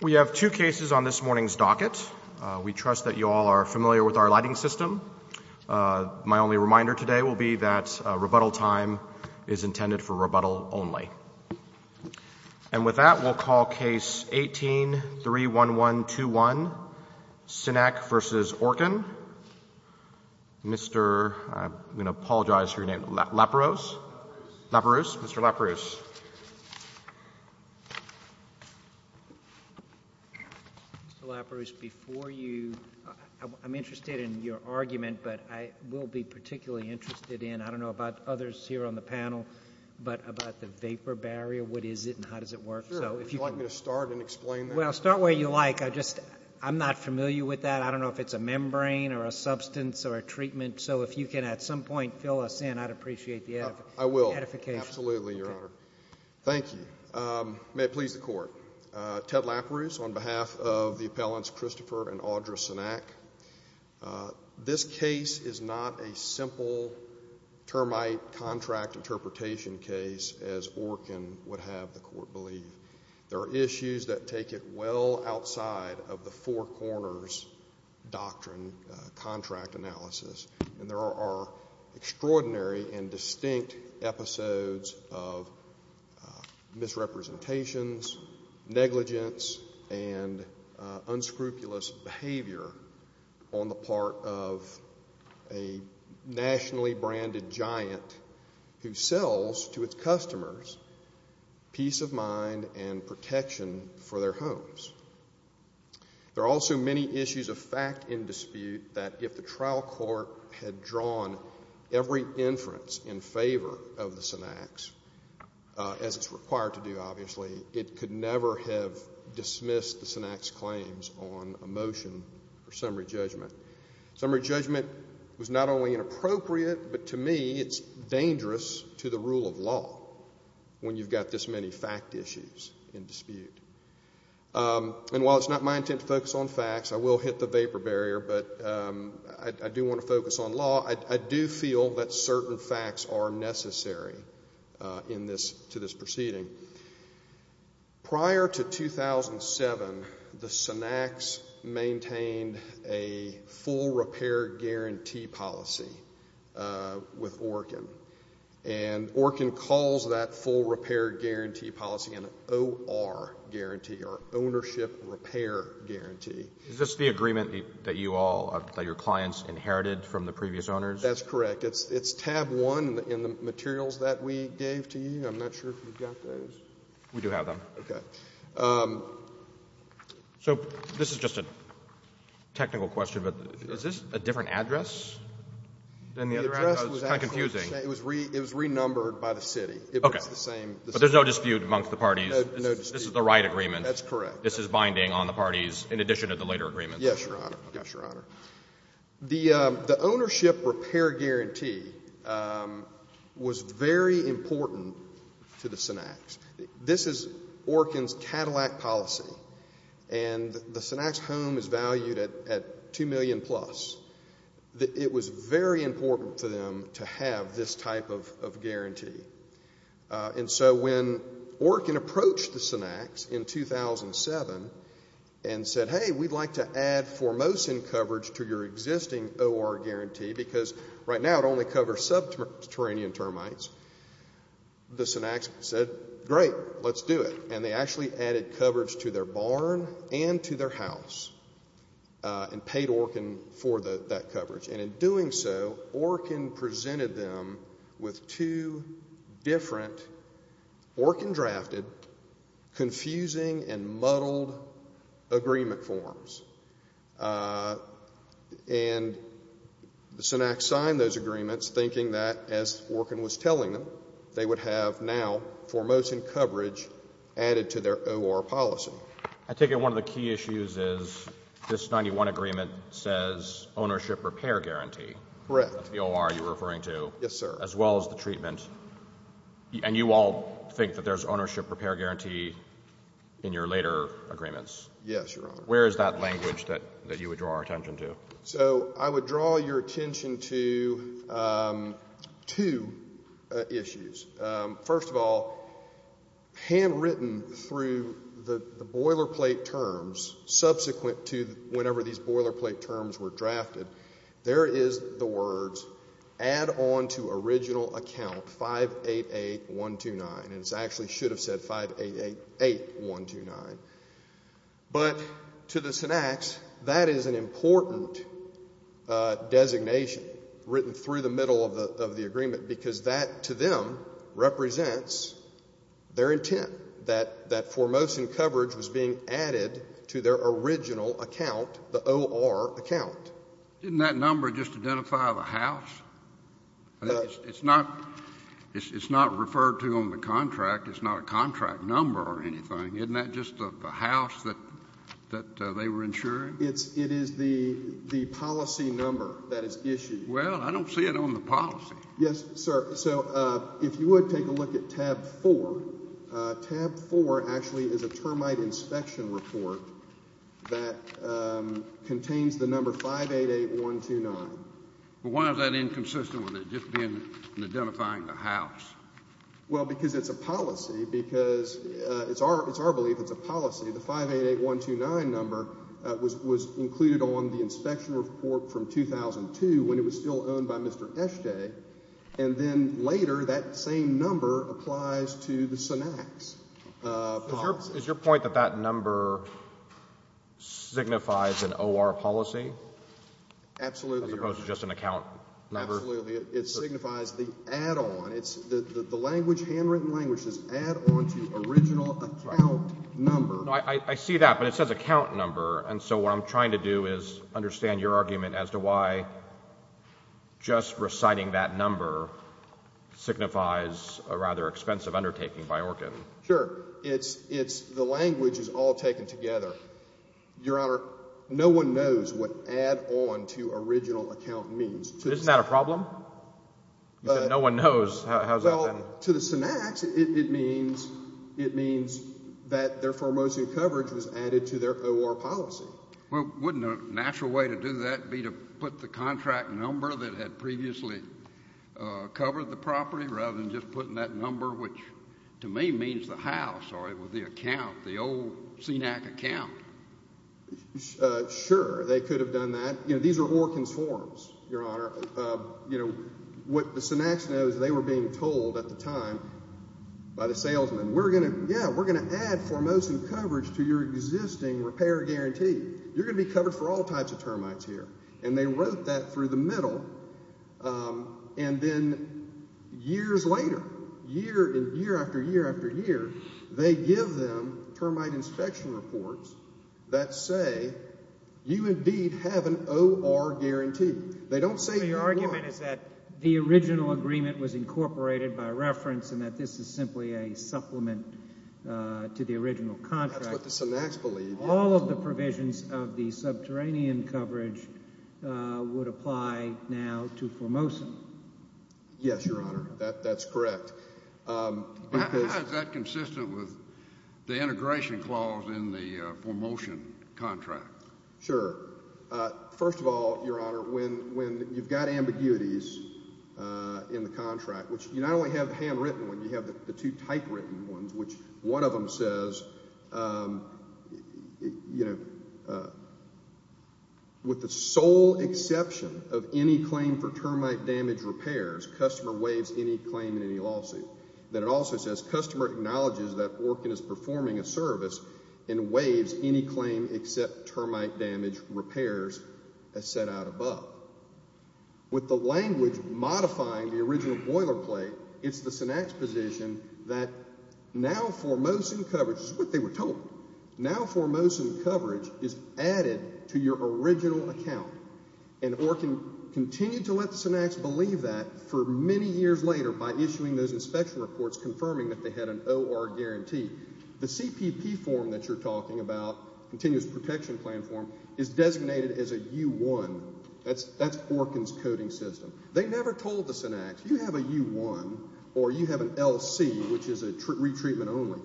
We have two cases on this morning's docket. We trust that you all are familiar with our lighting system. My only reminder today will be that rebuttal time is intended for rebuttal only. And with that, we'll call Case 18-31121, Cenac v. Orkin. Mr. I'm going to apologize for your name. Laperouse. Mr. Laperouse. Mr. Laperouse, before you—I'm interested in your argument, but I will be particularly interested in— I don't know about others here on the panel, but about the vapor barrier. What is it and how does it work? Sure. Would you like me to start and explain that? Well, start where you like. I'm not familiar with that. I don't know if it's a membrane or a substance or a treatment. So if you can at some point fill us in, I'd appreciate the edification. I will. Absolutely, Your Honor. Thank you. May it please the Court. Ted Laperouse on behalf of the appellants Christopher and Audra Cenac. This case is not a simple termite contract interpretation case as Orkin would have the Court believe. There are issues that take it well outside of the Four Corners Doctrine contract analysis. And there are extraordinary and distinct episodes of misrepresentations, negligence, and unscrupulous behavior on the part of a nationally branded giant who sells to its customers peace of mind and protection for their homes. There are also many issues of fact in dispute that if the trial court had drawn every inference in favor of the Cenacs, as it's required to do, obviously, it could never have dismissed the Cenac's claims on a motion for summary judgment. Summary judgment was not only inappropriate, but to me it's dangerous to the rule of law when you've got this many fact issues in dispute. And while it's not my intent to focus on facts, I will hit the vapor barrier, but I do want to focus on law. I do feel that certain facts are necessary to this proceeding. Prior to 2007, the Cenacs maintained a full repair guarantee policy with Orkin. And Orkin calls that full repair guarantee policy an OR guarantee or ownership repair guarantee. Is this the agreement that you all, that your clients inherited from the previous owners? That's correct. It's tab 1 in the materials that we gave to you. I'm not sure if you've got those. We do have them. Okay. So this is just a technical question, but is this a different address than the other address? It's kind of confusing. It was renumbered by the city. Okay. It was the same. But there's no dispute amongst the parties. No dispute. This is the right agreement. That's correct. So this is binding on the parties in addition to the later agreements? Yes, Your Honor. Yes, Your Honor. The ownership repair guarantee was very important to the Cenacs. This is Orkin's Cadillac policy, and the Cenacs home is valued at $2 million plus. It was very important for them to have this type of guarantee. And so when Orkin approached the Cenacs in 2007 and said, hey, we'd like to add Formosan coverage to your existing OR guarantee, because right now it only covers subterranean termites, the Cenacs said, great, let's do it. And they actually added coverage to their barn and to their house and paid Orkin for that coverage. And in doing so, Orkin presented them with two different Orkin-drafted, confusing and muddled agreement forms. And the Cenacs signed those agreements thinking that, as Orkin was telling them, they would have now Formosan coverage added to their OR policy. I take it one of the key issues is this 91 agreement says ownership repair guarantee. Correct. The OR you're referring to. Yes, sir. As well as the treatment. And you all think that there's ownership repair guarantee in your later agreements. Yes, Your Honor. Where is that language that you would draw our attention to? So I would draw your attention to two issues. First of all, handwritten through the boilerplate terms, subsequent to whenever these boilerplate terms were drafted, there is the words add on to original account 588129. And it actually should have said 5888129. But to the Cenacs, that is an important designation, written through the middle of the agreement, because that to them represents their intent, that Formosan coverage was being added to their original account, the OR account. Didn't that number just identify the house? It's not referred to on the contract. It's not a contract number or anything. Isn't that just the house that they were insuring? It is the policy number that is issued. Well, I don't see it on the policy. Yes, sir. So if you would take a look at tab 4. Tab 4 actually is a termite inspection report that contains the number 588129. But why is that inconsistent with it just being identifying the house? Well, because it's a policy. Because it's our belief it's a policy. The 588129 number was included on the inspection report from 2002 when it was still owned by Mr. Eshte, and then later that same number applies to the Cenacs policy. Is your point that that number signifies an OR policy? Absolutely. As opposed to just an account number? Absolutely. It signifies the add-on. The handwritten language says add-on to original account number. I see that, but it says account number. And so what I'm trying to do is understand your argument as to why just reciting that number signifies a rather expensive undertaking by ORCIN. Sure. The language is all taken together. Your Honor, no one knows what add-on to original account means. Isn't that a problem? No one knows. To the Cenacs, it means that their foremost coverage was added to their OR policy. Well, wouldn't a natural way to do that be to put the contract number that had previously covered the property rather than just putting that number, which to me means the house or the account, the old Cenac account? Sure. They could have done that. These are ORCIN's forms, Your Honor. What the Cenacs know is they were being told at the time by the salesman, yeah, we're going to add foremost in coverage to your existing repair guarantee. You're going to be covered for all types of termites here. And they wrote that through the middle. And then years later, year after year after year, they give them termite inspection reports that say you indeed have an OR guarantee. They don't say who you are. So your argument is that the original agreement was incorporated by reference and that this is simply a supplement to the original contract. That's what the Cenacs believe. All of the provisions of the subterranean coverage would apply now to foremost. Yes, Your Honor. That's correct. How is that consistent with the integration clause in the foremost contract? Sure. First of all, Your Honor, when you've got ambiguities in the contract, which you not only have the handwritten one, you have the two typewritten ones, which one of them says, you know, with the sole exception of any claim for termite damage repairs, customer waives any claim in any lawsuit. Then it also says customer acknowledges that ORCIN is performing a service and waives any claim except termite damage repairs as set out above. With the language modifying the original boilerplate, it's the Cenacs position that now foremost in coverage, this is what they were told, now foremost in coverage is added to your original account. And ORCIN continued to let the Cenacs believe that for many years later by issuing those inspection reports confirming that they had an OR guarantee. The CPP form that you're talking about, continuous protection plan form, is designated as a U1. That's ORCIN's coding system. They never told the Cenacs, you have a U1 or you have an LC, which is a retreatment only.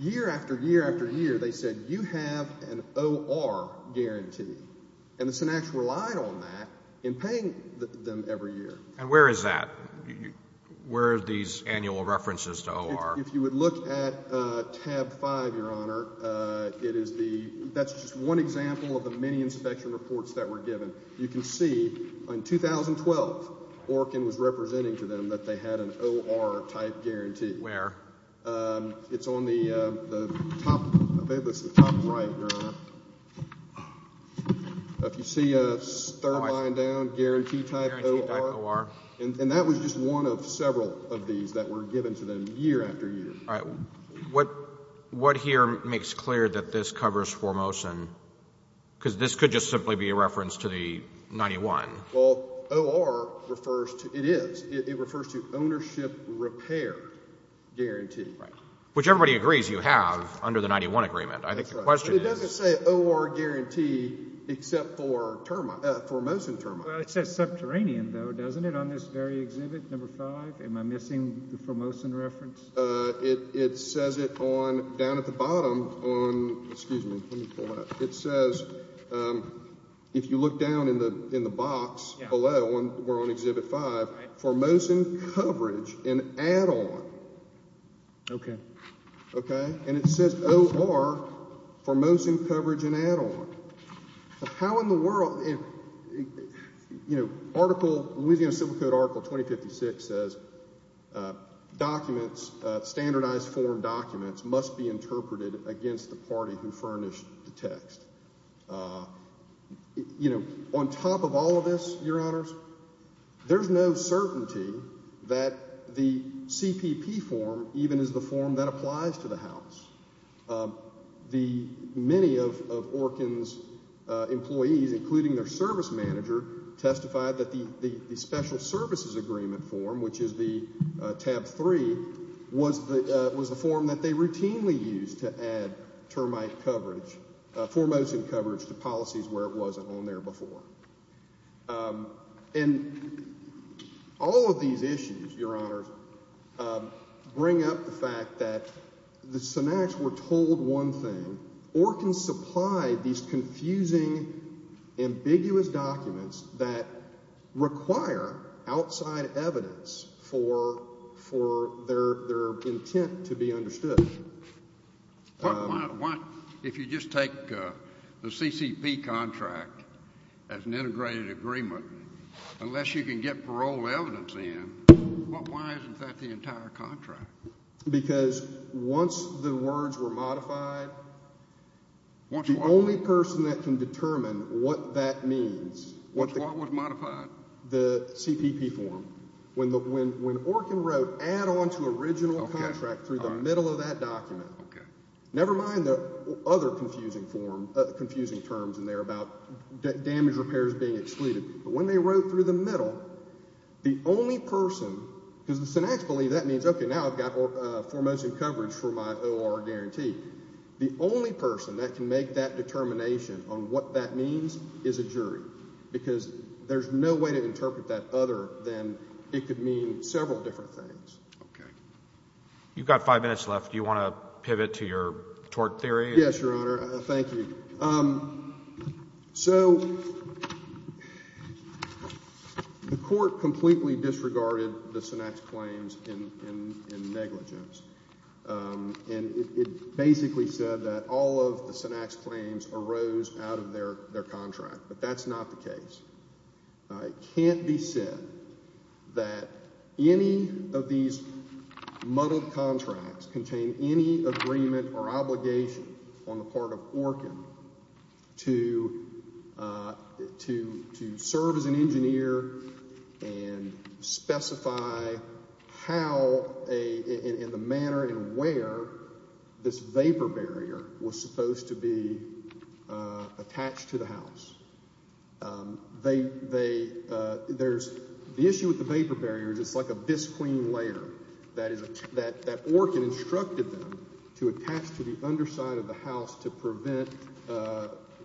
Year after year after year, they said, you have an OR guarantee. And the Cenacs relied on that in paying them every year. And where is that? Where are these annual references to OR? If you would look at tab 5, Your Honor, that's just one example of the many inspection reports that were given. You can see in 2012 ORCIN was representing to them that they had an OR type guarantee. Where? It's on the top right, Your Honor. If you see a third line down, guarantee type OR. And that was just one of several of these that were given to them year after year. What here makes clear that this covers Formosan? Because this could just simply be a reference to the 91. Well, OR refers to ownership repair guarantee. Which everybody agrees you have under the 91 agreement. It doesn't say OR guarantee except for Formosan termite. Well, it says subterranean, though, doesn't it, on this very exhibit, number 5? Am I missing the Formosan reference? It says it down at the bottom. Excuse me. Let me pull that up. It says, if you look down in the box below where we're on exhibit 5, Formosan coverage and add-on. Okay. Okay? And it says OR, Formosan coverage and add-on. How in the world? You know, Louisiana Civil Code Article 2056 says documents, standardized form documents, must be interpreted against the party who furnished the text. You know, on top of all of this, Your Honors, there's no certainty that the CPP form even is the form that applies to the House. Many of ORCN's employees, including their service manager, testified that the special services agreement form, which is the tab 3, was the form that they routinely used to add termite coverage, Formosan coverage to policies where it wasn't on there before. And all of these issues, Your Honors, bring up the fact that the Sinatics were told one thing. ORCN supplied these confusing, ambiguous documents that require outside evidence for their intent to be understood. Why, if you just take the CCP contract as an integrated agreement, unless you can get parole evidence in, why isn't that the entire contract? Because once the words were modified, the only person that can determine what that means. What was modified? The CPP form. When ORCN wrote, add on to original contract through the middle of that document, never mind the other confusing terms in there about damage repairs being excluded. But when they wrote through the middle, the only person, because the Sinatics believe that means, okay, now I've got Formosan coverage for my ORR guarantee. The only person that can make that determination on what that means is a jury. Because there's no way to interpret that other than it could mean several different things. Okay. You've got five minutes left. Do you want to pivot to your tort theory? Yes, Your Honor. Thank you. So the court completely disregarded the Sinatics' claims in negligence. And it basically said that all of the Sinatics' claims arose out of their contract. But that's not the case. It can't be said that any of these muddled contracts contain any agreement or obligation on the part of ORCN to serve as an engineer and specify how and the manner and where this vapor barrier was supposed to be attached to the house. The issue with the vapor barrier is it's like a bisque clean layer. That ORCN instructed them to attach to the underside of the house to prevent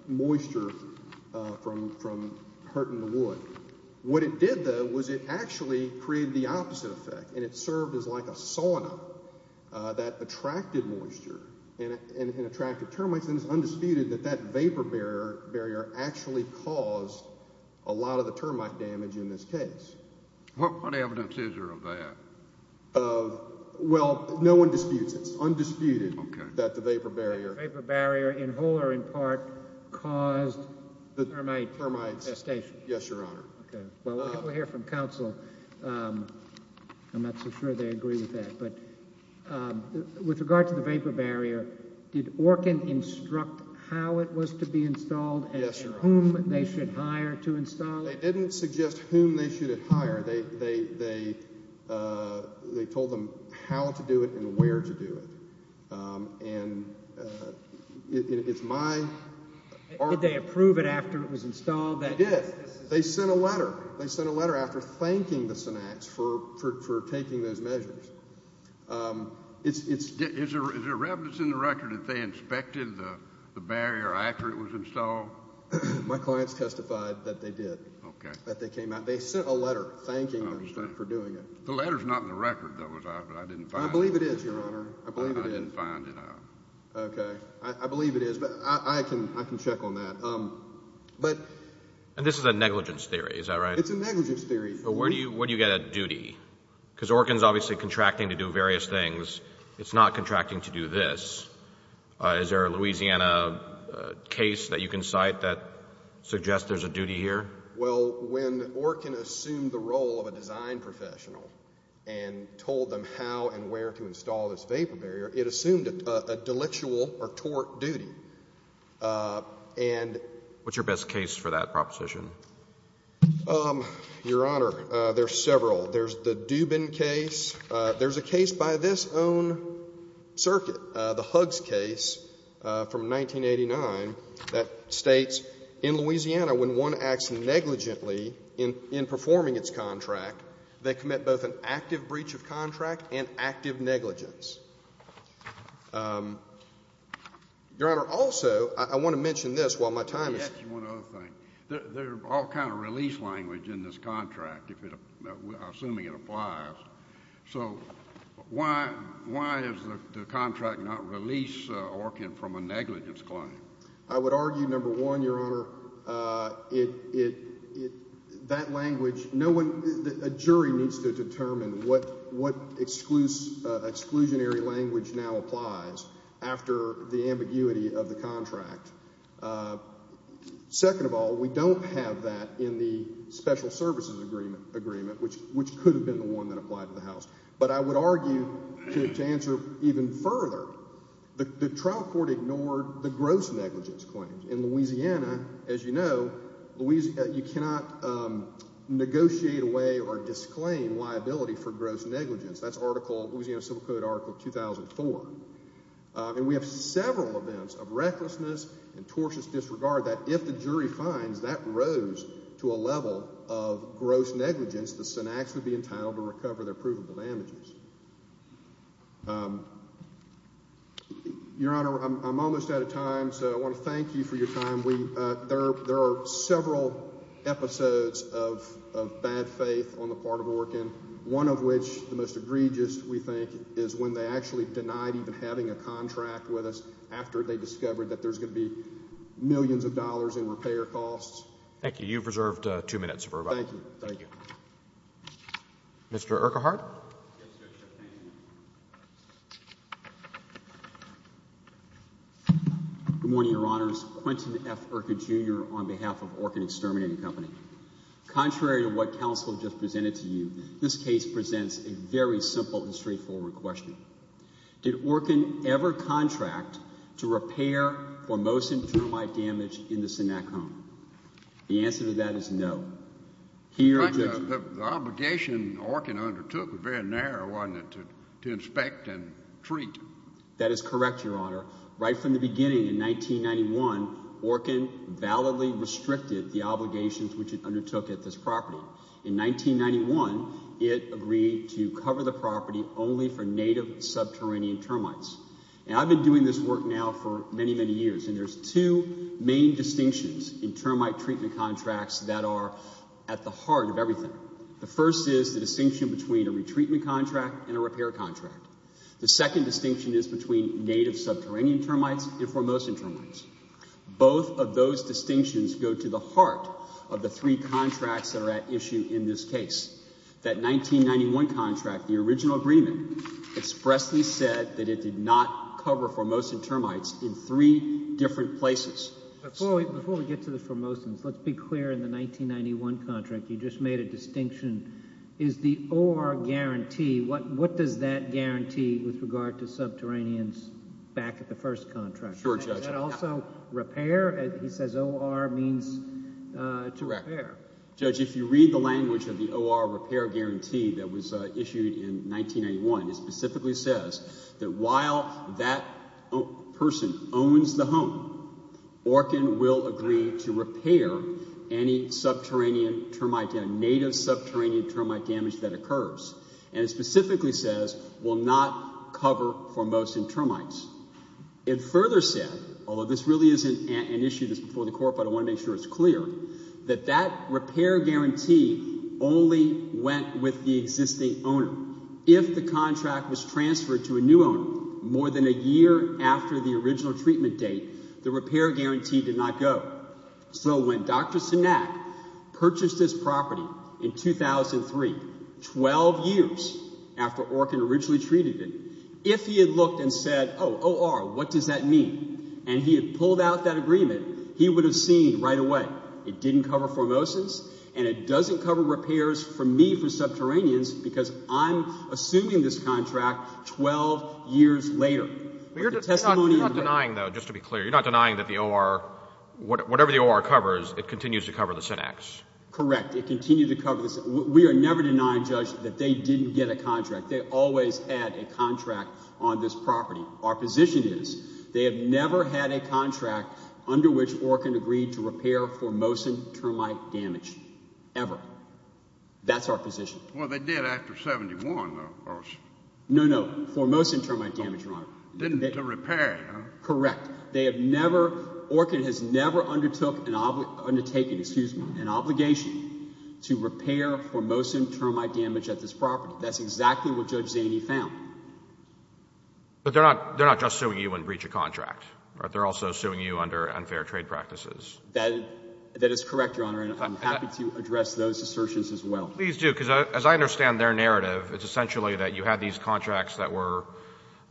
moisture from hurting the wood. What it did, though, was it actually created the opposite effect. And it served as like a sauna that attracted moisture and attracted termites. And it's undisputed that that vapor barrier actually caused a lot of the termite damage in this case. What evidence is there of that? Well, no one disputes it. It's undisputed that the vapor barrier in whole or in part caused the termite infestation. Yes, Your Honor. Well, we'll hear from counsel. I'm not so sure they agree with that. But with regard to the vapor barrier, did ORCN instruct how it was to be installed and whom they should hire to install it? They didn't suggest whom they should hire. They told them how to do it and where to do it. And it's my argument. Did they approve it after it was installed? They did. They sent a letter. They sent a letter after thanking the Cenax for taking those measures. Is there evidence in the record that they inspected the barrier after it was installed? My clients testified that they did, that they came out. They sent a letter thanking them for doing it. The letter is not in the record, though, is it? I believe it is, Your Honor. I believe it is. I didn't find it. Okay. I believe it is. But I can check on that. And this is a negligence theory, is that right? It's a negligence theory. But where do you get a duty? Because ORCN is obviously contracting to do various things. It's not contracting to do this. Is there a Louisiana case that you can cite that suggests there's a duty here? Well, when ORCN assumed the role of a design professional and told them how and where to install this vapor barrier, it assumed a delictual or tort duty. And what's your best case for that proposition? Your Honor, there are several. There's the Dubin case. There's a case by this own circuit, the Huggs case from 1989, that states in Louisiana when one acts negligently in performing its contract, they commit both an active breach of contract and active negligence. Your Honor, also, I want to mention this while my time is up. Let me ask you one other thing. There are all kinds of release language in this contract, assuming it applies. So why does the contract not release ORCN from a negligence claim? I would argue, number one, Your Honor, that language, a jury needs to determine what exclusionary language now applies after the ambiguity of the contract. Second of all, we don't have that in the special services agreement, which could have been the one that applied to the House. But I would argue, to answer even further, the trial court ignored the gross negligence claim. In Louisiana, as you know, you cannot negotiate away or disclaim liability for gross negligence. That's Louisiana Civil Code Article 2004. And we have several events of recklessness and tortious disregard that if the jury finds that rose to a level of gross negligence, the syntax would be entitled to recover their provable damages. Your Honor, I'm almost out of time, so I want to thank you for your time. There are several episodes of bad faith on the part of ORCN, one of which, the most egregious, we think, is when they actually denied even having a contract with us after they discovered that there's going to be millions of dollars in repair costs. Thank you. You've reserved two minutes for rebuttal. Thank you. Mr. Urquhart. Good morning, Your Honors. Quentin F. Urquhart, Jr. on behalf of ORCN Exterminating Company. Contrary to what counsel just presented to you, this case presents a very simple and straightforward question. Did ORCN ever contract to repair Formosan termite damage in the Sennac home? The answer to that is no. The obligation ORCN undertook was very narrow, wasn't it, to inspect and treat? That is correct, Your Honor. Right from the beginning in 1991, ORCN validly restricted the obligations which it undertook at this property. In 1991, it agreed to cover the property only for native subterranean termites. And I've been doing this work now for many, many years, and there's two main distinctions in termite treatment contracts that are at the heart of everything. The first is the distinction between a retreatment contract and a repair contract. The second distinction is between native subterranean termites and Formosan termites. Both of those distinctions go to the heart of the three contracts that are at issue in this case. That 1991 contract, the original agreement, expressly said that it did not cover Formosan termites in three different places. Before we get to the Formosans, let's be clear. In the 1991 contract, you just made a distinction. Is the OR guarantee, what does that guarantee with regard to subterraneans back at the first contract? Sure, Judge. Is that also repair? He says OR means to repair. Judge, if you read the language of the OR repair guarantee that was issued in 1991, it specifically says that while that person owns the home, ORCN will agree to repair any subterranean termite, any native subterranean termite damage that occurs. And it specifically says will not cover Formosan termites. It further said, although this really isn't an issue, this is before the court, but I want to make sure it's clear, that that repair guarantee only went with the existing owner. If the contract was transferred to a new owner more than a year after the original treatment date, the repair guarantee did not go. So when Dr. Sinak purchased this property in 2003, 12 years after ORCN originally treated it, if he had looked and said, oh, OR, what does that mean, and he had pulled out that agreement, he would have seen right away it didn't cover Formosans, and it doesn't cover repairs for me for subterraneans because I'm assuming this contract 12 years later. But you're not denying, though, just to be clear, you're not denying that the OR, whatever the OR covers, it continues to cover the Sinaks? Correct. It continues to cover the Sinaks. We are never denying, Judge, that they didn't get a contract. They always had a contract on this property. Our position is they have never had a contract under which ORCN agreed to repair Formosan termite damage, ever. That's our position. Well, they did after 1971, though, of course. No, no, Formosan termite damage, Your Honor. Didn't get to repair it, huh? Correct. They have never, ORCN has never undertook, undertaken, excuse me, an obligation to repair Formosan termite damage at this property. That's exactly what Judge Zaney found. But they're not just suing you in breach of contract, right? They're also suing you under unfair trade practices. That is correct, Your Honor, and I'm happy to address those assertions as well. Please do, because as I understand their narrative, it's essentially that you had these contracts that were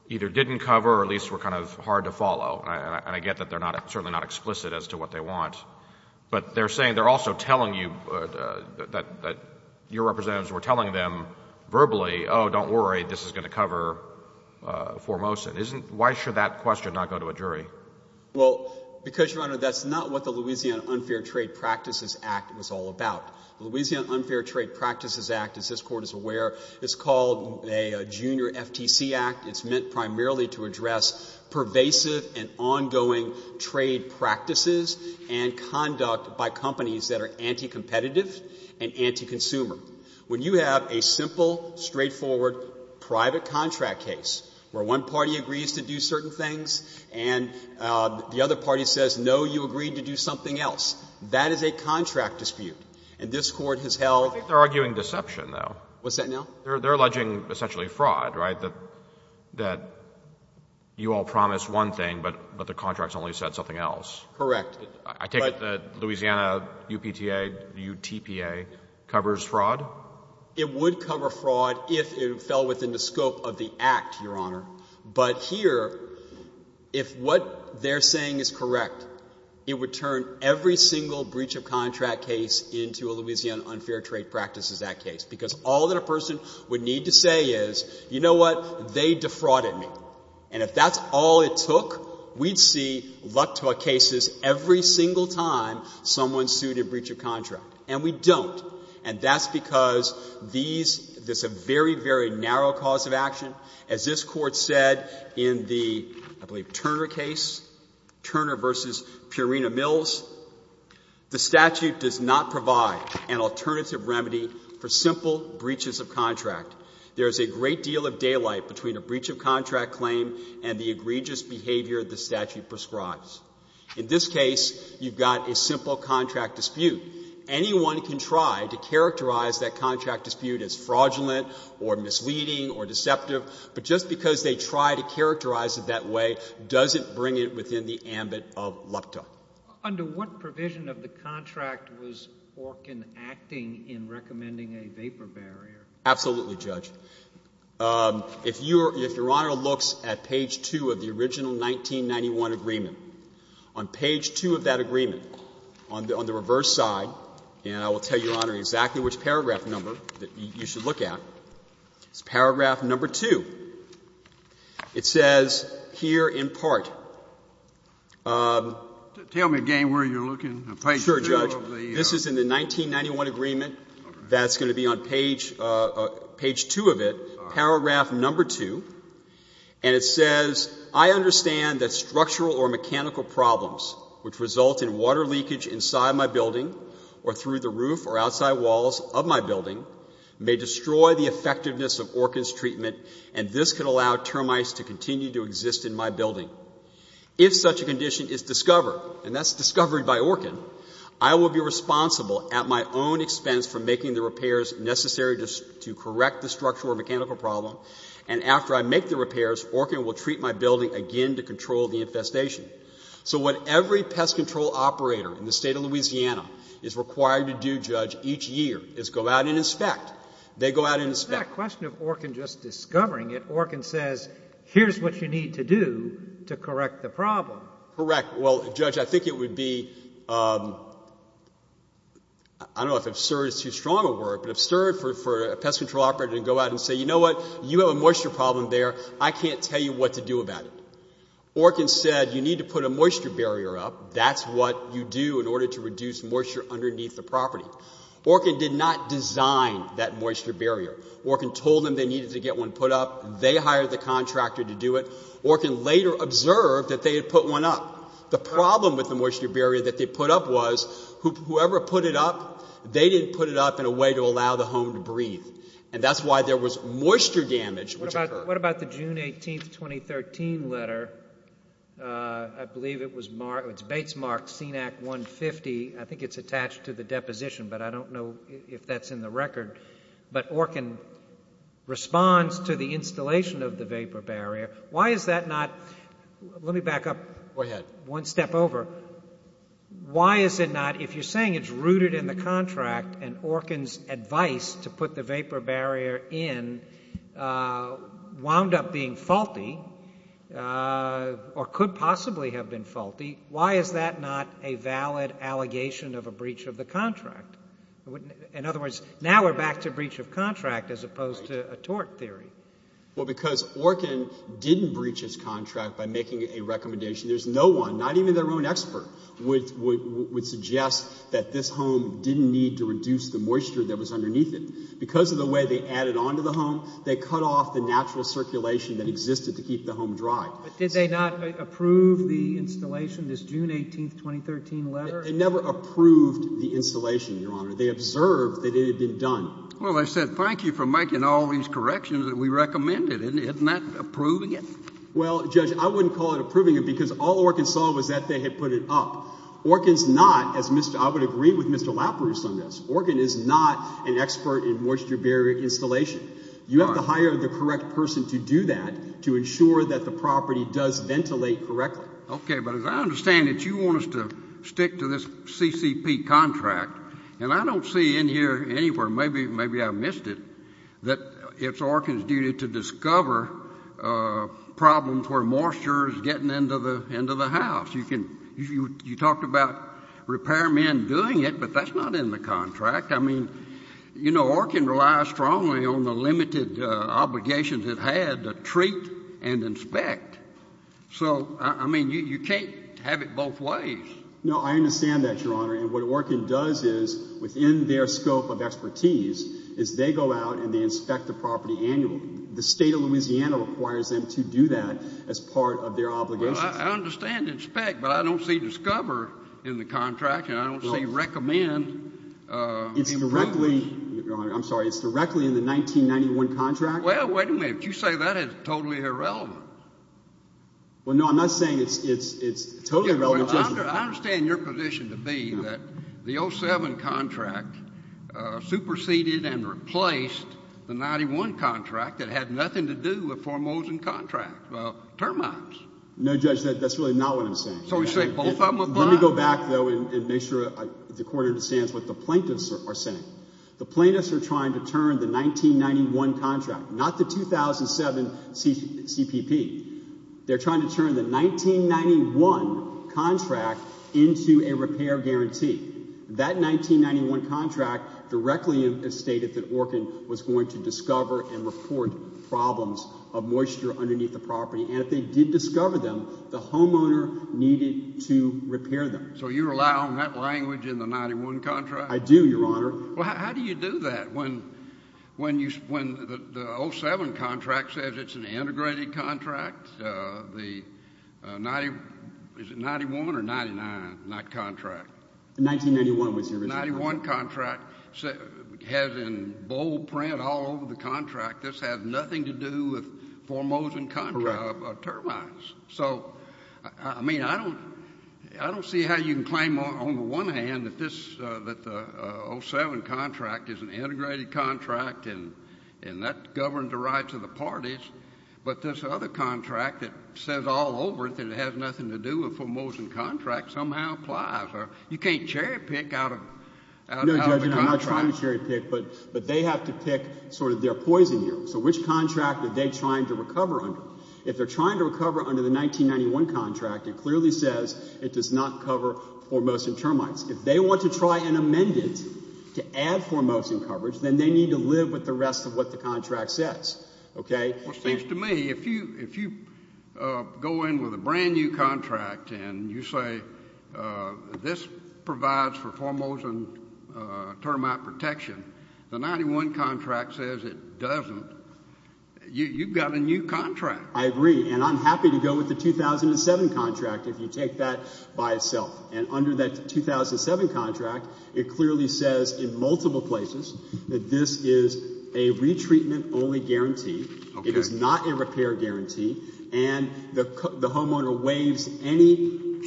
either didn't cover or at least were kind of hard to follow, and I get that they're certainly not explicit as to what they want, but they're saying they're also telling you that your representatives were telling them verbally, oh, don't worry, this is going to cover Formosan. Why should that question not go to a jury? Well, because, Your Honor, that's not what the Louisiana Unfair Trade Practices Act was all about. The Louisiana Unfair Trade Practices Act, as this Court is aware, is called a Junior FTC Act. It's meant primarily to address pervasive and ongoing trade practices and conduct by companies that are anti-competitive and anti-consumer. When you have a simple, straightforward, private contract case where one party agrees to do certain things and the other party says, no, you agreed to do something else, that is a contract dispute. And this Court has held— I think they're arguing deception, though. What's that now? They're alleging essentially fraud, right, that you all promised one thing, but the contracts only said something else. Correct. I take it that Louisiana UPTA, UTPA covers fraud? It would cover fraud if it fell within the scope of the Act, Your Honor. But here, if what they're saying is correct, it would turn every single breach of contract case into a Louisiana Unfair Trade Practices Act case because all that a person would need to say is, you know what, they defrauded me. And if that's all it took, we'd see, luck to our cases, every single time someone sued a breach of contract. And we don't. And that's because these—there's a very, very narrow cause of action. As this Court said in the, I believe, Turner case, Turner v. Purina-Mills, the statute does not provide an alternative remedy for simple breaches of contract. There is a great deal of daylight between a breach of contract claim and the egregious behavior the statute prescribes. In this case, you've got a simple contract dispute. Anyone can try to characterize that contract dispute as fraudulent or misleading or deceptive, but just because they try to characterize it that way doesn't bring it within the ambit of LUPTA. Under what provision of the contract was Orkin acting in recommending a vapor barrier? Absolutely, Judge. If Your Honor looks at page 2 of the original 1991 agreement, on page 2 of that agreement, on the reverse side, and I will tell Your Honor exactly which paragraph number that you should look at, it's paragraph number 2. It says here in part— Tell me again where you're looking. Sure, Judge. This is in the 1991 agreement. That's going to be on page 2 of it, paragraph number 2. And it says, I understand that structural or mechanical problems which result in water leakage inside my building or through the roof or outside walls of my building may destroy the effectiveness of Orkin's treatment, and this could allow termites to continue to exist in my building. If such a condition is discovered, and that's discovered by Orkin, I will be responsible at my own expense for making the repairs necessary to correct the structural or mechanical problem, and after I make the repairs, Orkin will treat my building again to control the infestation. So what every pest control operator in the State of Louisiana is required to do, Judge, each year is go out and inspect. They go out and inspect. But is that a question of Orkin just discovering it? Orkin says, here's what you need to do to correct the problem. Correct. Well, Judge, I think it would be, I don't know if absurd is too strong a word, but absurd for a pest control operator to go out and say, you know what, you have a moisture problem there. I can't tell you what to do about it. Orkin said, you need to put a moisture barrier up. That's what you do in order to reduce moisture underneath the property. Orkin did not design that moisture barrier. Orkin told them they needed to get one put up. They hired the contractor to do it. Orkin later observed that they had put one up. The problem with the moisture barrier that they put up was whoever put it up, they didn't put it up in a way to allow the home to breathe, and that's why there was moisture damage which occurred. What about the June 18, 2013, letter? I believe it was Bates Marked CNAC 150. I think it's attached to the deposition, but I don't know if that's in the record. But Orkin responds to the installation of the vapor barrier. Why is that not? Let me back up one step over. Why is it not, if you're saying it's rooted in the contract and Orkin's advice to put the vapor barrier in wound up being faulty or could possibly have been faulty, why is that not a valid allegation of a breach of the contract? In other words, now we're back to breach of contract as opposed to a tort theory. Well, because Orkin didn't breach his contract by making a recommendation. There's no one, not even their own expert, would suggest that this home didn't need to reduce the moisture that was underneath it. Because of the way they added on to the home, they cut off the natural circulation that existed to keep the home dry. But did they not approve the installation, this June 18, 2013, letter? They never approved the installation, Your Honor. They observed that it had been done. Well, they said thank you for making all these corrections that we recommended. Isn't that approving it? Well, Judge, I wouldn't call it approving it because all Orkin saw was that they had put it up. Orkin's not, as I would agree with Mr. Laparuse on this, Orkin is not an expert in moisture barrier installation. You have to hire the correct person to do that to ensure that the property does ventilate correctly. Okay, but as I understand it, you want us to stick to this CCP contract. And I don't see in here anywhere, maybe I missed it, that it's Orkin's duty to discover problems where moisture is getting into the house. You talked about repairmen doing it, but that's not in the contract. I mean, you know, Orkin relies strongly on the limited obligations it had to treat and inspect. So, I mean, you can't have it both ways. No, I understand that, Your Honor. And what Orkin does is, within their scope of expertise, is they go out and they inspect the property annually. The state of Louisiana requires them to do that as part of their obligations. Well, I understand inspect, but I don't see discover in the contract, and I don't see recommend. It's directly, Your Honor, I'm sorry, it's directly in the 1991 contract. Well, wait a minute, you say that is totally irrelevant. Well, no, I'm not saying it's totally irrelevant. I understand your position to be that the 07 contract superseded and replaced the 91 contract that had nothing to do with Formosan contract termites. No, Judge, that's really not what I'm saying. So you say both of them apply? Let me go back, though, and make sure the Court understands what the plaintiffs are saying. The plaintiffs are trying to turn the 1991 contract, not the 2007 CPP. They're trying to turn the 1991 contract into a repair guarantee. That 1991 contract directly stated that Orkin was going to discover and report problems of moisture underneath the property, and if they did discover them, the homeowner needed to repair them. So you rely on that language in the 91 contract? I do, Your Honor. Well, how do you do that when the 07 contract says it's an integrated contract? Is it 91 or 99, not contract? The 1991 was the original. The 91 contract has in bold print all over the contract, this has nothing to do with Formosan contract termites. So, I mean, I don't see how you can claim on the one hand that the 07 contract is an integrated contract and that governs the rights of the parties, but this other contract that says all over it that it has nothing to do with Formosan contract somehow applies. You can't cherry-pick out of the contract. No, Judge, I'm not trying to cherry-pick, but they have to pick sort of their poison here. So which contract are they trying to recover under? If they're trying to recover under the 1991 contract, it clearly says it does not cover Formosan termites. If they want to try and amend it to add Formosan coverage, then they need to live with the rest of what the contract says. Okay? Well, it seems to me if you go in with a brand-new contract and you say this provides for Formosan termite protection, the 91 contract says it doesn't, you've got a new contract. I agree, and I'm happy to go with the 2007 contract if you take that by itself. And under that 2007 contract, it clearly says in multiple places that this is a retreatment-only guarantee. It is not a repair guarantee, and the homeowner waives any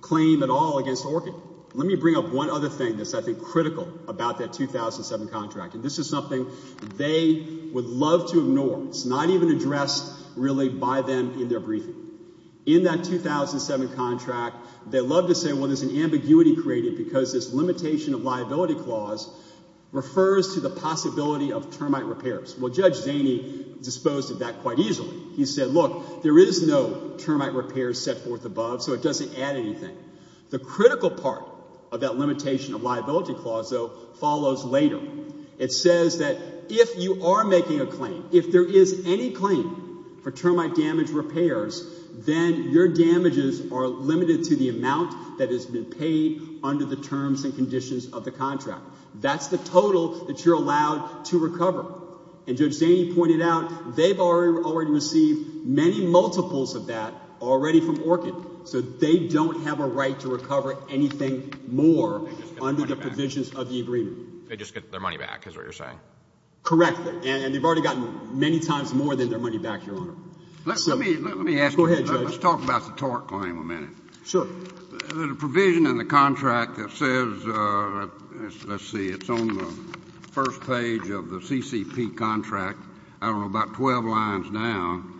claim at all against ORCA. Let me bring up one other thing that's, I think, critical about that 2007 contract, and this is something they would love to ignore. It's not even addressed really by them in their briefing. In that 2007 contract, they love to say, well, there's an ambiguity created because this limitation of liability clause refers to the possibility of termite repairs. Well, Judge Zaney disposed of that quite easily. He said, look, there is no termite repair set forth above, so it doesn't add anything. The critical part of that limitation of liability clause, though, follows later. It says that if you are making a claim, if there is any claim for termite damage repairs, then your damages are limited to the amount that has been paid under the terms and conditions of the contract. That's the total that you're allowed to recover. And Judge Zaney pointed out they've already received many multiples of that already from ORCA, so they don't have a right to recover anything more under the provisions of the agreement. They just get their money back, is what you're saying? Correct, and they've already gotten many times more than their money back, Your Honor. Let me ask you. Go ahead, Judge. Let's talk about the TORC claim a minute. Sure. The provision in the contract that says, let's see, it's on the first page of the CCP contract, I don't know, about 12 lines down.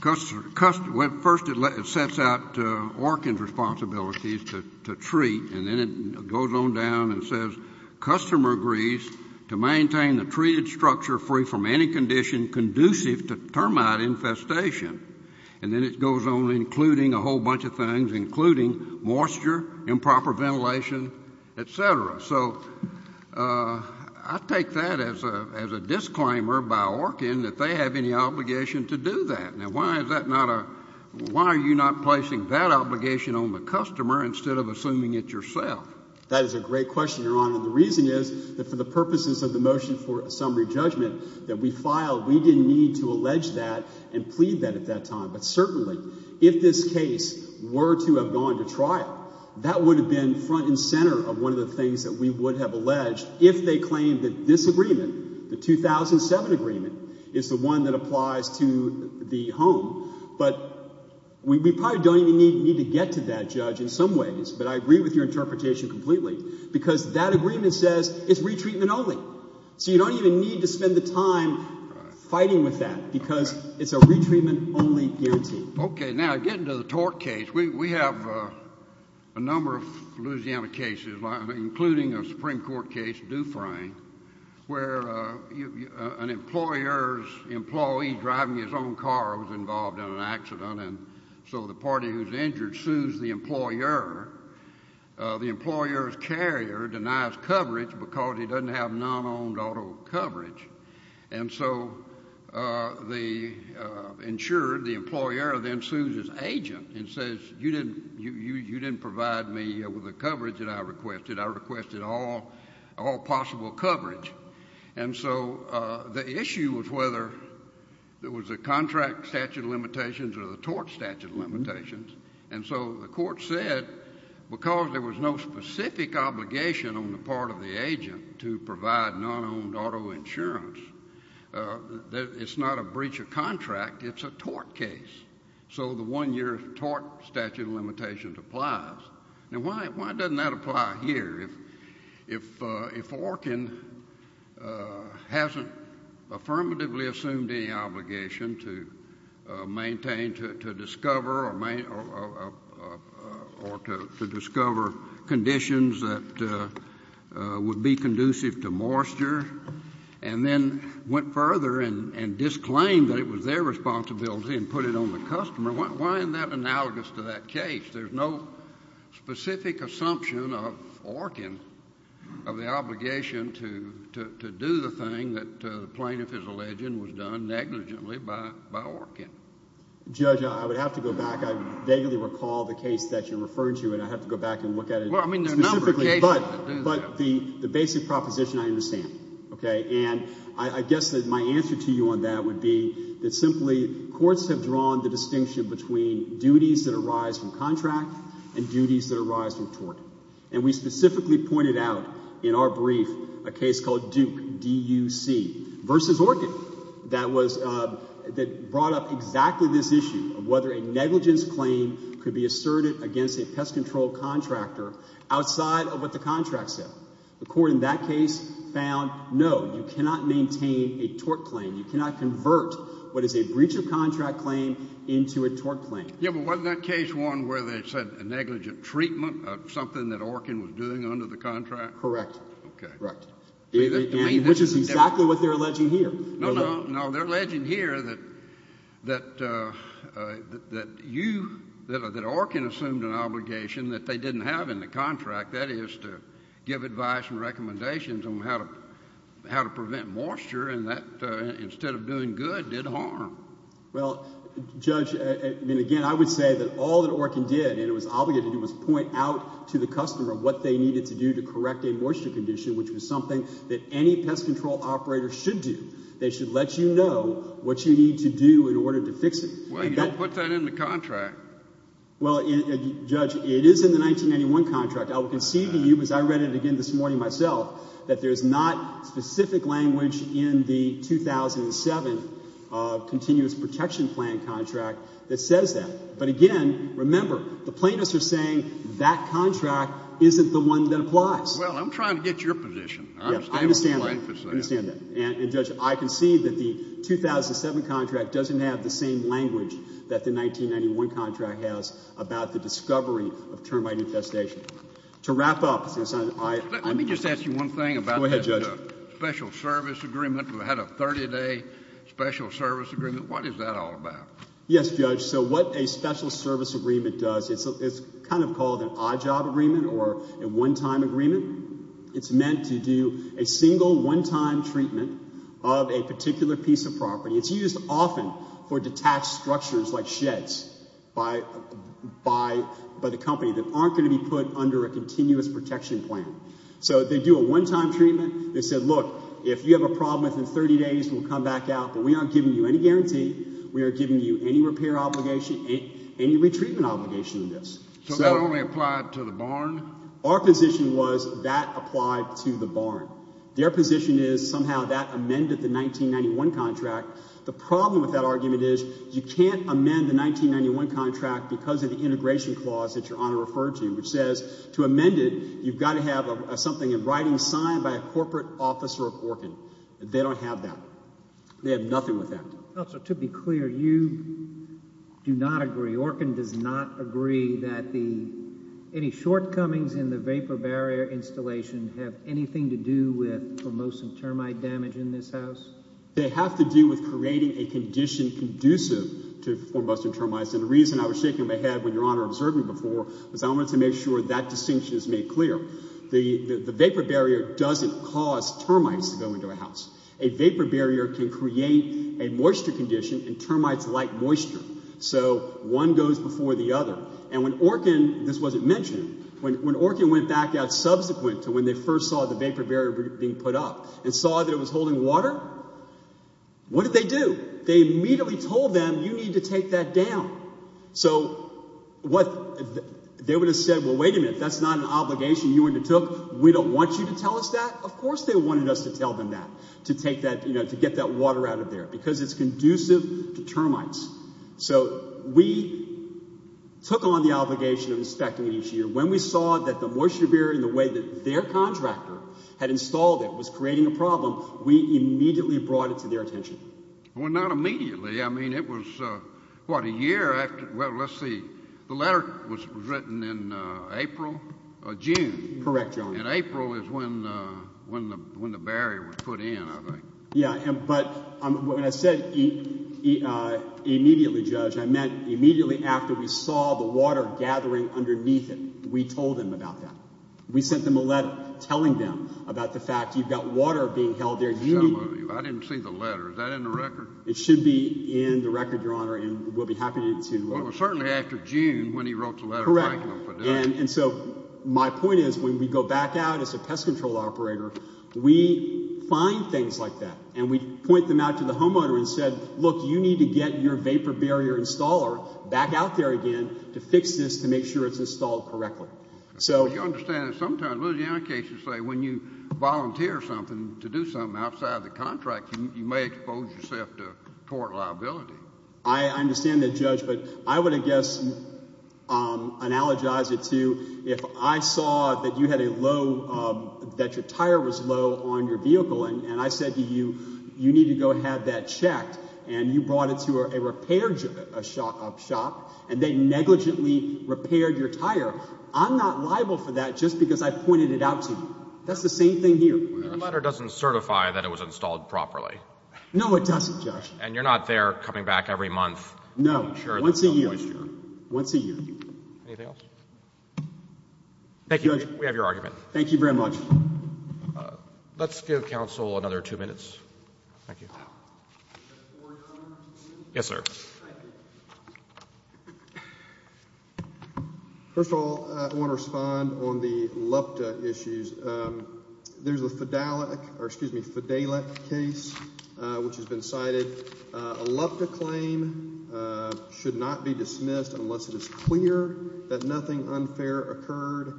First it sets out ORCA's responsibilities to treat, and then it goes on down and says, customer agrees to maintain the treated structure free from any condition conducive to termite infestation. And then it goes on including a whole bunch of things, including moisture, improper ventilation, et cetera. So I take that as a disclaimer by ORCA that they have any obligation to do that. Now, why is that not a – why are you not placing that obligation on the customer instead of assuming it's yourself? That is a great question, Your Honor, and the reason is that for the purposes of the motion for a summary judgment that we filed, we didn't need to allege that and plead that at that time. But certainly if this case were to have gone to trial, that would have been front and center of one of the things that we would have alleged if they claimed that this agreement, the 2007 agreement, is the one that applies to the home. But we probably don't even need to get to that, Judge, in some ways. But I agree with your interpretation completely because that agreement says it's retreatment only. So you don't even need to spend the time fighting with that because it's a retreatment only guarantee. Okay. Now, getting to the tort case, we have a number of Louisiana cases, including a Supreme Court case, Dufresne, where an employer's employee driving his own car was involved in an accident, and so the party who's injured sues the employer. The employer's carrier denies coverage because he doesn't have non-owned auto coverage. And so the insured, the employer, then sues his agent and says, You didn't provide me with the coverage that I requested. I requested all possible coverage. And so the issue was whether there was a contract statute of limitations or the tort statute of limitations. And so the court said because there was no specific obligation on the part of the agent to provide non-owned auto insurance, it's not a breach of contract. It's a tort case. So the one-year tort statute of limitations applies. Now, why doesn't that apply here? If Orkin hasn't affirmatively assumed any obligation to maintain, to discover conditions that would be conducive to moisture and then went further and disclaimed that it was their responsibility and put it on the customer, why isn't that analogous to that case? There's no specific assumption of Orkin of the obligation to do the thing that the plaintiff is alleging was done negligently by Orkin. Judge, I would have to go back. I vaguely recall the case that you're referring to, and I have to go back and look at it specifically. Well, I mean there are a number of cases that do that. But the basic proposition I understand. And I guess that my answer to you on that would be that simply courts have drawn the distinction between duties that arise from contract and duties that arise from tort. And we specifically pointed out in our brief a case called Duke, D-U-C, versus Orkin, that brought up exactly this issue of whether a negligence claim could be asserted against a pest control contractor outside of what the contract said. The court in that case found no, you cannot maintain a tort claim. You cannot convert what is a breach of contract claim into a tort claim. Yeah, but wasn't that case one where they said a negligent treatment of something that Orkin was doing under the contract? Correct. Okay. Which is exactly what they're alleging here. No, no, no. They're alleging here that you, that Orkin assumed an obligation that they didn't have in the contract, that is to give advice and recommendations on how to prevent moisture and that instead of doing good did harm. Well, Judge, I mean, again, I would say that all that Orkin did, and it was obligated to do, was point out to the customer what they needed to do to correct a moisture condition, which was something that any pest control operator should do. They should let you know what you need to do in order to fix it. Well, you don't put that in the contract. Well, Judge, it is in the 1991 contract. I will concede to you, because I read it again this morning myself, that there is not specific language in the 2007 continuous protection plan contract that says that. But, again, remember, the plaintiffs are saying that contract isn't the one that applies. Well, I'm trying to get your position. I understand that. I understand that. And, Judge, I concede that the 2007 contract doesn't have the same language that the 1991 contract has about the discovery of termite infestation. To wrap up. Let me just ask you one thing about the special service agreement. We had a 30-day special service agreement. What is that all about? Yes, Judge. So what a special service agreement does, it's kind of called an odd job agreement or a one-time agreement. It's meant to do a single one-time treatment of a particular piece of property. It's used often for detached structures like sheds by the company that aren't going to be put under a continuous protection plan. So they do a one-time treatment. They say, look, if you have a problem within 30 days, we'll come back out. But we aren't giving you any guarantee. We are giving you any repair obligation, any retreatment obligation in this. So that only applied to the barn? Our position was that applied to the barn. Their position is somehow that amended the 1991 contract. The problem with that argument is you can't amend the 1991 contract because of the integration clause that Your Honor referred to, which says to amend it you've got to have something in writing signed by a corporate officer of Oregon. They don't have that. They have nothing with that. Counselor, to be clear, you do not agree, Oregon does not agree that any shortcomings in the vapor barrier installation have anything to do with formosan termite damage in this house? They have to do with creating a condition conducive to formosan termites. And the reason I was shaking my head when Your Honor observed me before was I wanted to make sure that distinction is made clear. A vapor barrier can create a moisture condition and termites like moisture. So one goes before the other. And when Oregon, this wasn't mentioned, when Oregon went back out subsequent to when they first saw the vapor barrier being put up and saw that it was holding water, what did they do? They immediately told them you need to take that down. So they would have said, well, wait a minute, that's not an obligation you undertook. We don't want you to tell us that. Of course they wanted us to tell them that, to get that water out of there, because it's conducive to termites. So we took on the obligation of inspecting it each year. When we saw that the moisture barrier in the way that their contractor had installed it was creating a problem, we immediately brought it to their attention. Well, not immediately. I mean, it was, what, a year after? Well, let's see. The letter was written in April or June. Correct, Your Honor. And April is when the barrier was put in, I think. Yeah, but when I said immediately, Judge, I meant immediately after we saw the water gathering underneath it. We told them about that. We sent them a letter telling them about the fact you've got water being held there. I didn't see the letter. Is that in the record? It should be in the record, Your Honor, and we'll be happy to. Well, it was certainly after June when he wrote the letter. Correct. And so my point is when we go back out as a pest control operator, we find things like that, and we point them out to the homeowner and said, look, you need to get your vapor barrier installer back out there again to fix this to make sure it's installed correctly. So you understand that sometimes litigant cases say when you volunteer something to do something outside of the contract, you may expose yourself to court liability. I understand that, Judge, but I would, I guess, analogize it to if I saw that you had a low, that your tire was low on your vehicle, and I said to you, you need to go have that checked, and you brought it to a repair shop, and they negligently repaired your tire. I'm not liable for that just because I pointed it out to you. That's the same thing here. The letter doesn't certify that it was installed properly. No, it doesn't, Judge. And you're not there coming back every month. No, once a year. Anything else? Thank you, Judge. We have your argument. Thank you very much. Let's give counsel another two minutes. Thank you. Yes, sir. First of all, I want to respond on the LUPTA issues. There's a Fidelic case which has been cited. A LUPTA claim should not be dismissed unless it is clear that nothing unfair occurred.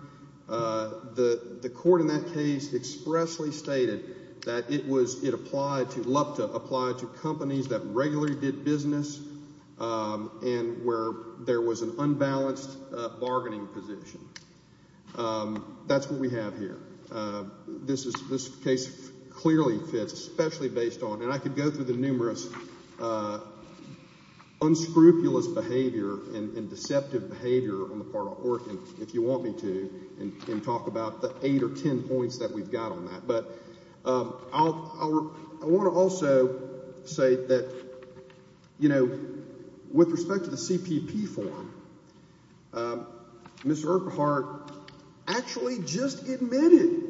The court in that case expressly stated that it was, it applied to, LUPTA applied to companies that regularly did business and where there was an unbalanced bargaining position. That's what we have here. This case clearly fits, especially based on, and I could go through the numerous unscrupulous behavior and deceptive behavior on the part of Orkin if you want me to, and talk about the eight or ten points that we've got on that. I want to also say that, you know, with respect to the CPP form, Mr. Earphardt actually just admitted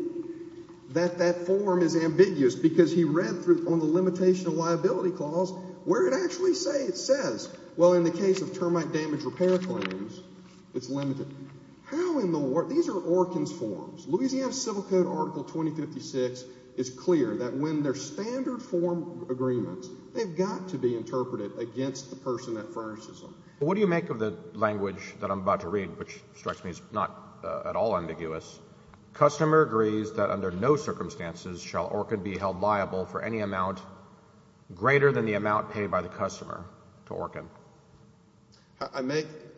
that that form is ambiguous because he read on the limitation of liability clause where it actually says, well, in the case of termite damage repair claims, it's limited. How in the world? These are Orkin's forms. Louisiana Civil Code Article 2056 is clear that when they're standard form agreements, they've got to be interpreted against the person that furnishes them. What do you make of the language that I'm about to read, which strikes me as not at all ambiguous? Customer agrees that under no circumstances shall Orkin be held liable for any amount greater than the amount paid by the customer to Orkin.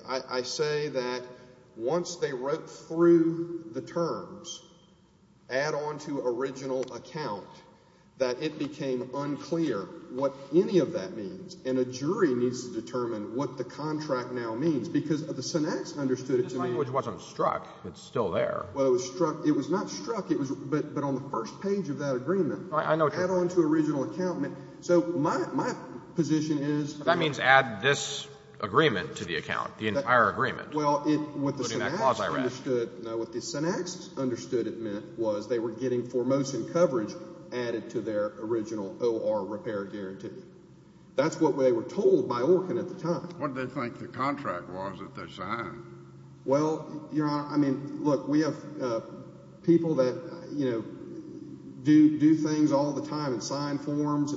I say that once they wrote through the terms, add on to original account, that it became unclear what any of that means, and a jury needs to determine what the contract now means because the syntax understood it to mean— This language wasn't struck. It's still there. Well, it was struck—it was not struck, but on the first page of that agreement. I know. Add on to original account. So my position is— That means add this agreement to the account, the entire agreement. Well, what the syntax understood it meant was they were getting foremost in coverage added to their original O.R. repair guarantee. That's what they were told by Orkin at the time. What did they think the contract was that they signed? Well, Your Honor, I mean, look, we have people that, you know, do things all the time and sign forms.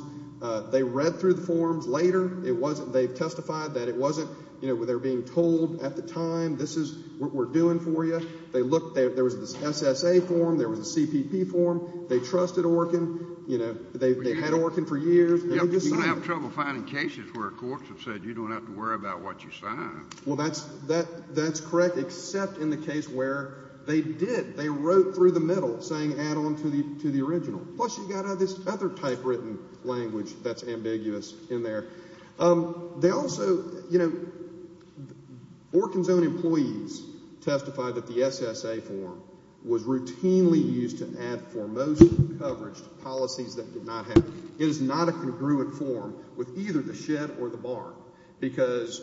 They read through the forms later. It wasn't—they testified that it wasn't—you know, they were being told at the time this is what we're doing for you. They looked—there was an SSA form. There was a CPP form. They trusted Orkin. You know, they had Orkin for years. You're going to have trouble finding cases where courts have said you don't have to worry about what you sign. Well, that's correct, except in the case where they did. They wrote through the middle saying add on to the original. Plus you've got this other typewritten language that's ambiguous in there. They also—you know, Orkin's own employees testified that the SSA form was routinely used to add foremost coverage to policies that did not have it. It is not a congruent form with either the SHED or the BAR. Because,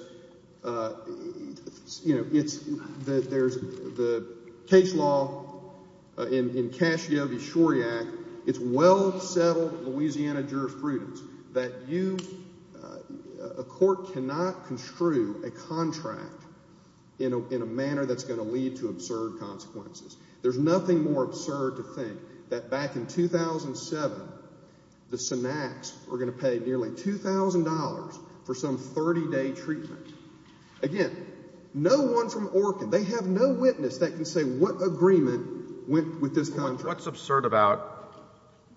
you know, it's—there's the case law in Cascio v. Shuriak. It's well-settled Louisiana jurisprudence that you—a court cannot construe a contract in a manner that's going to lead to absurd consequences. There's nothing more absurd to think that back in 2007 the SNACs were going to pay nearly $2,000 for some 30-day treatment. Again, no one from Orkin—they have no witness that can say what agreement went with this contract. What's absurd about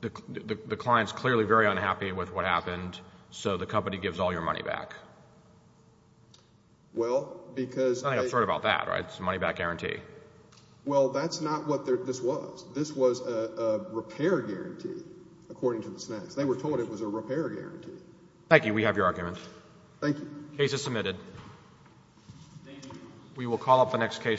the client's clearly very unhappy with what happened, so the company gives all your money back? Well, because they— Nothing absurd about that, right? It's a money-back guarantee. Well, that's not what this was. This was a repair guarantee, according to the SNACs. They were told it was a repair guarantee. Thank you. We have your argument. Thank you. Case is submitted. Thank you. We will call up the next case shortly.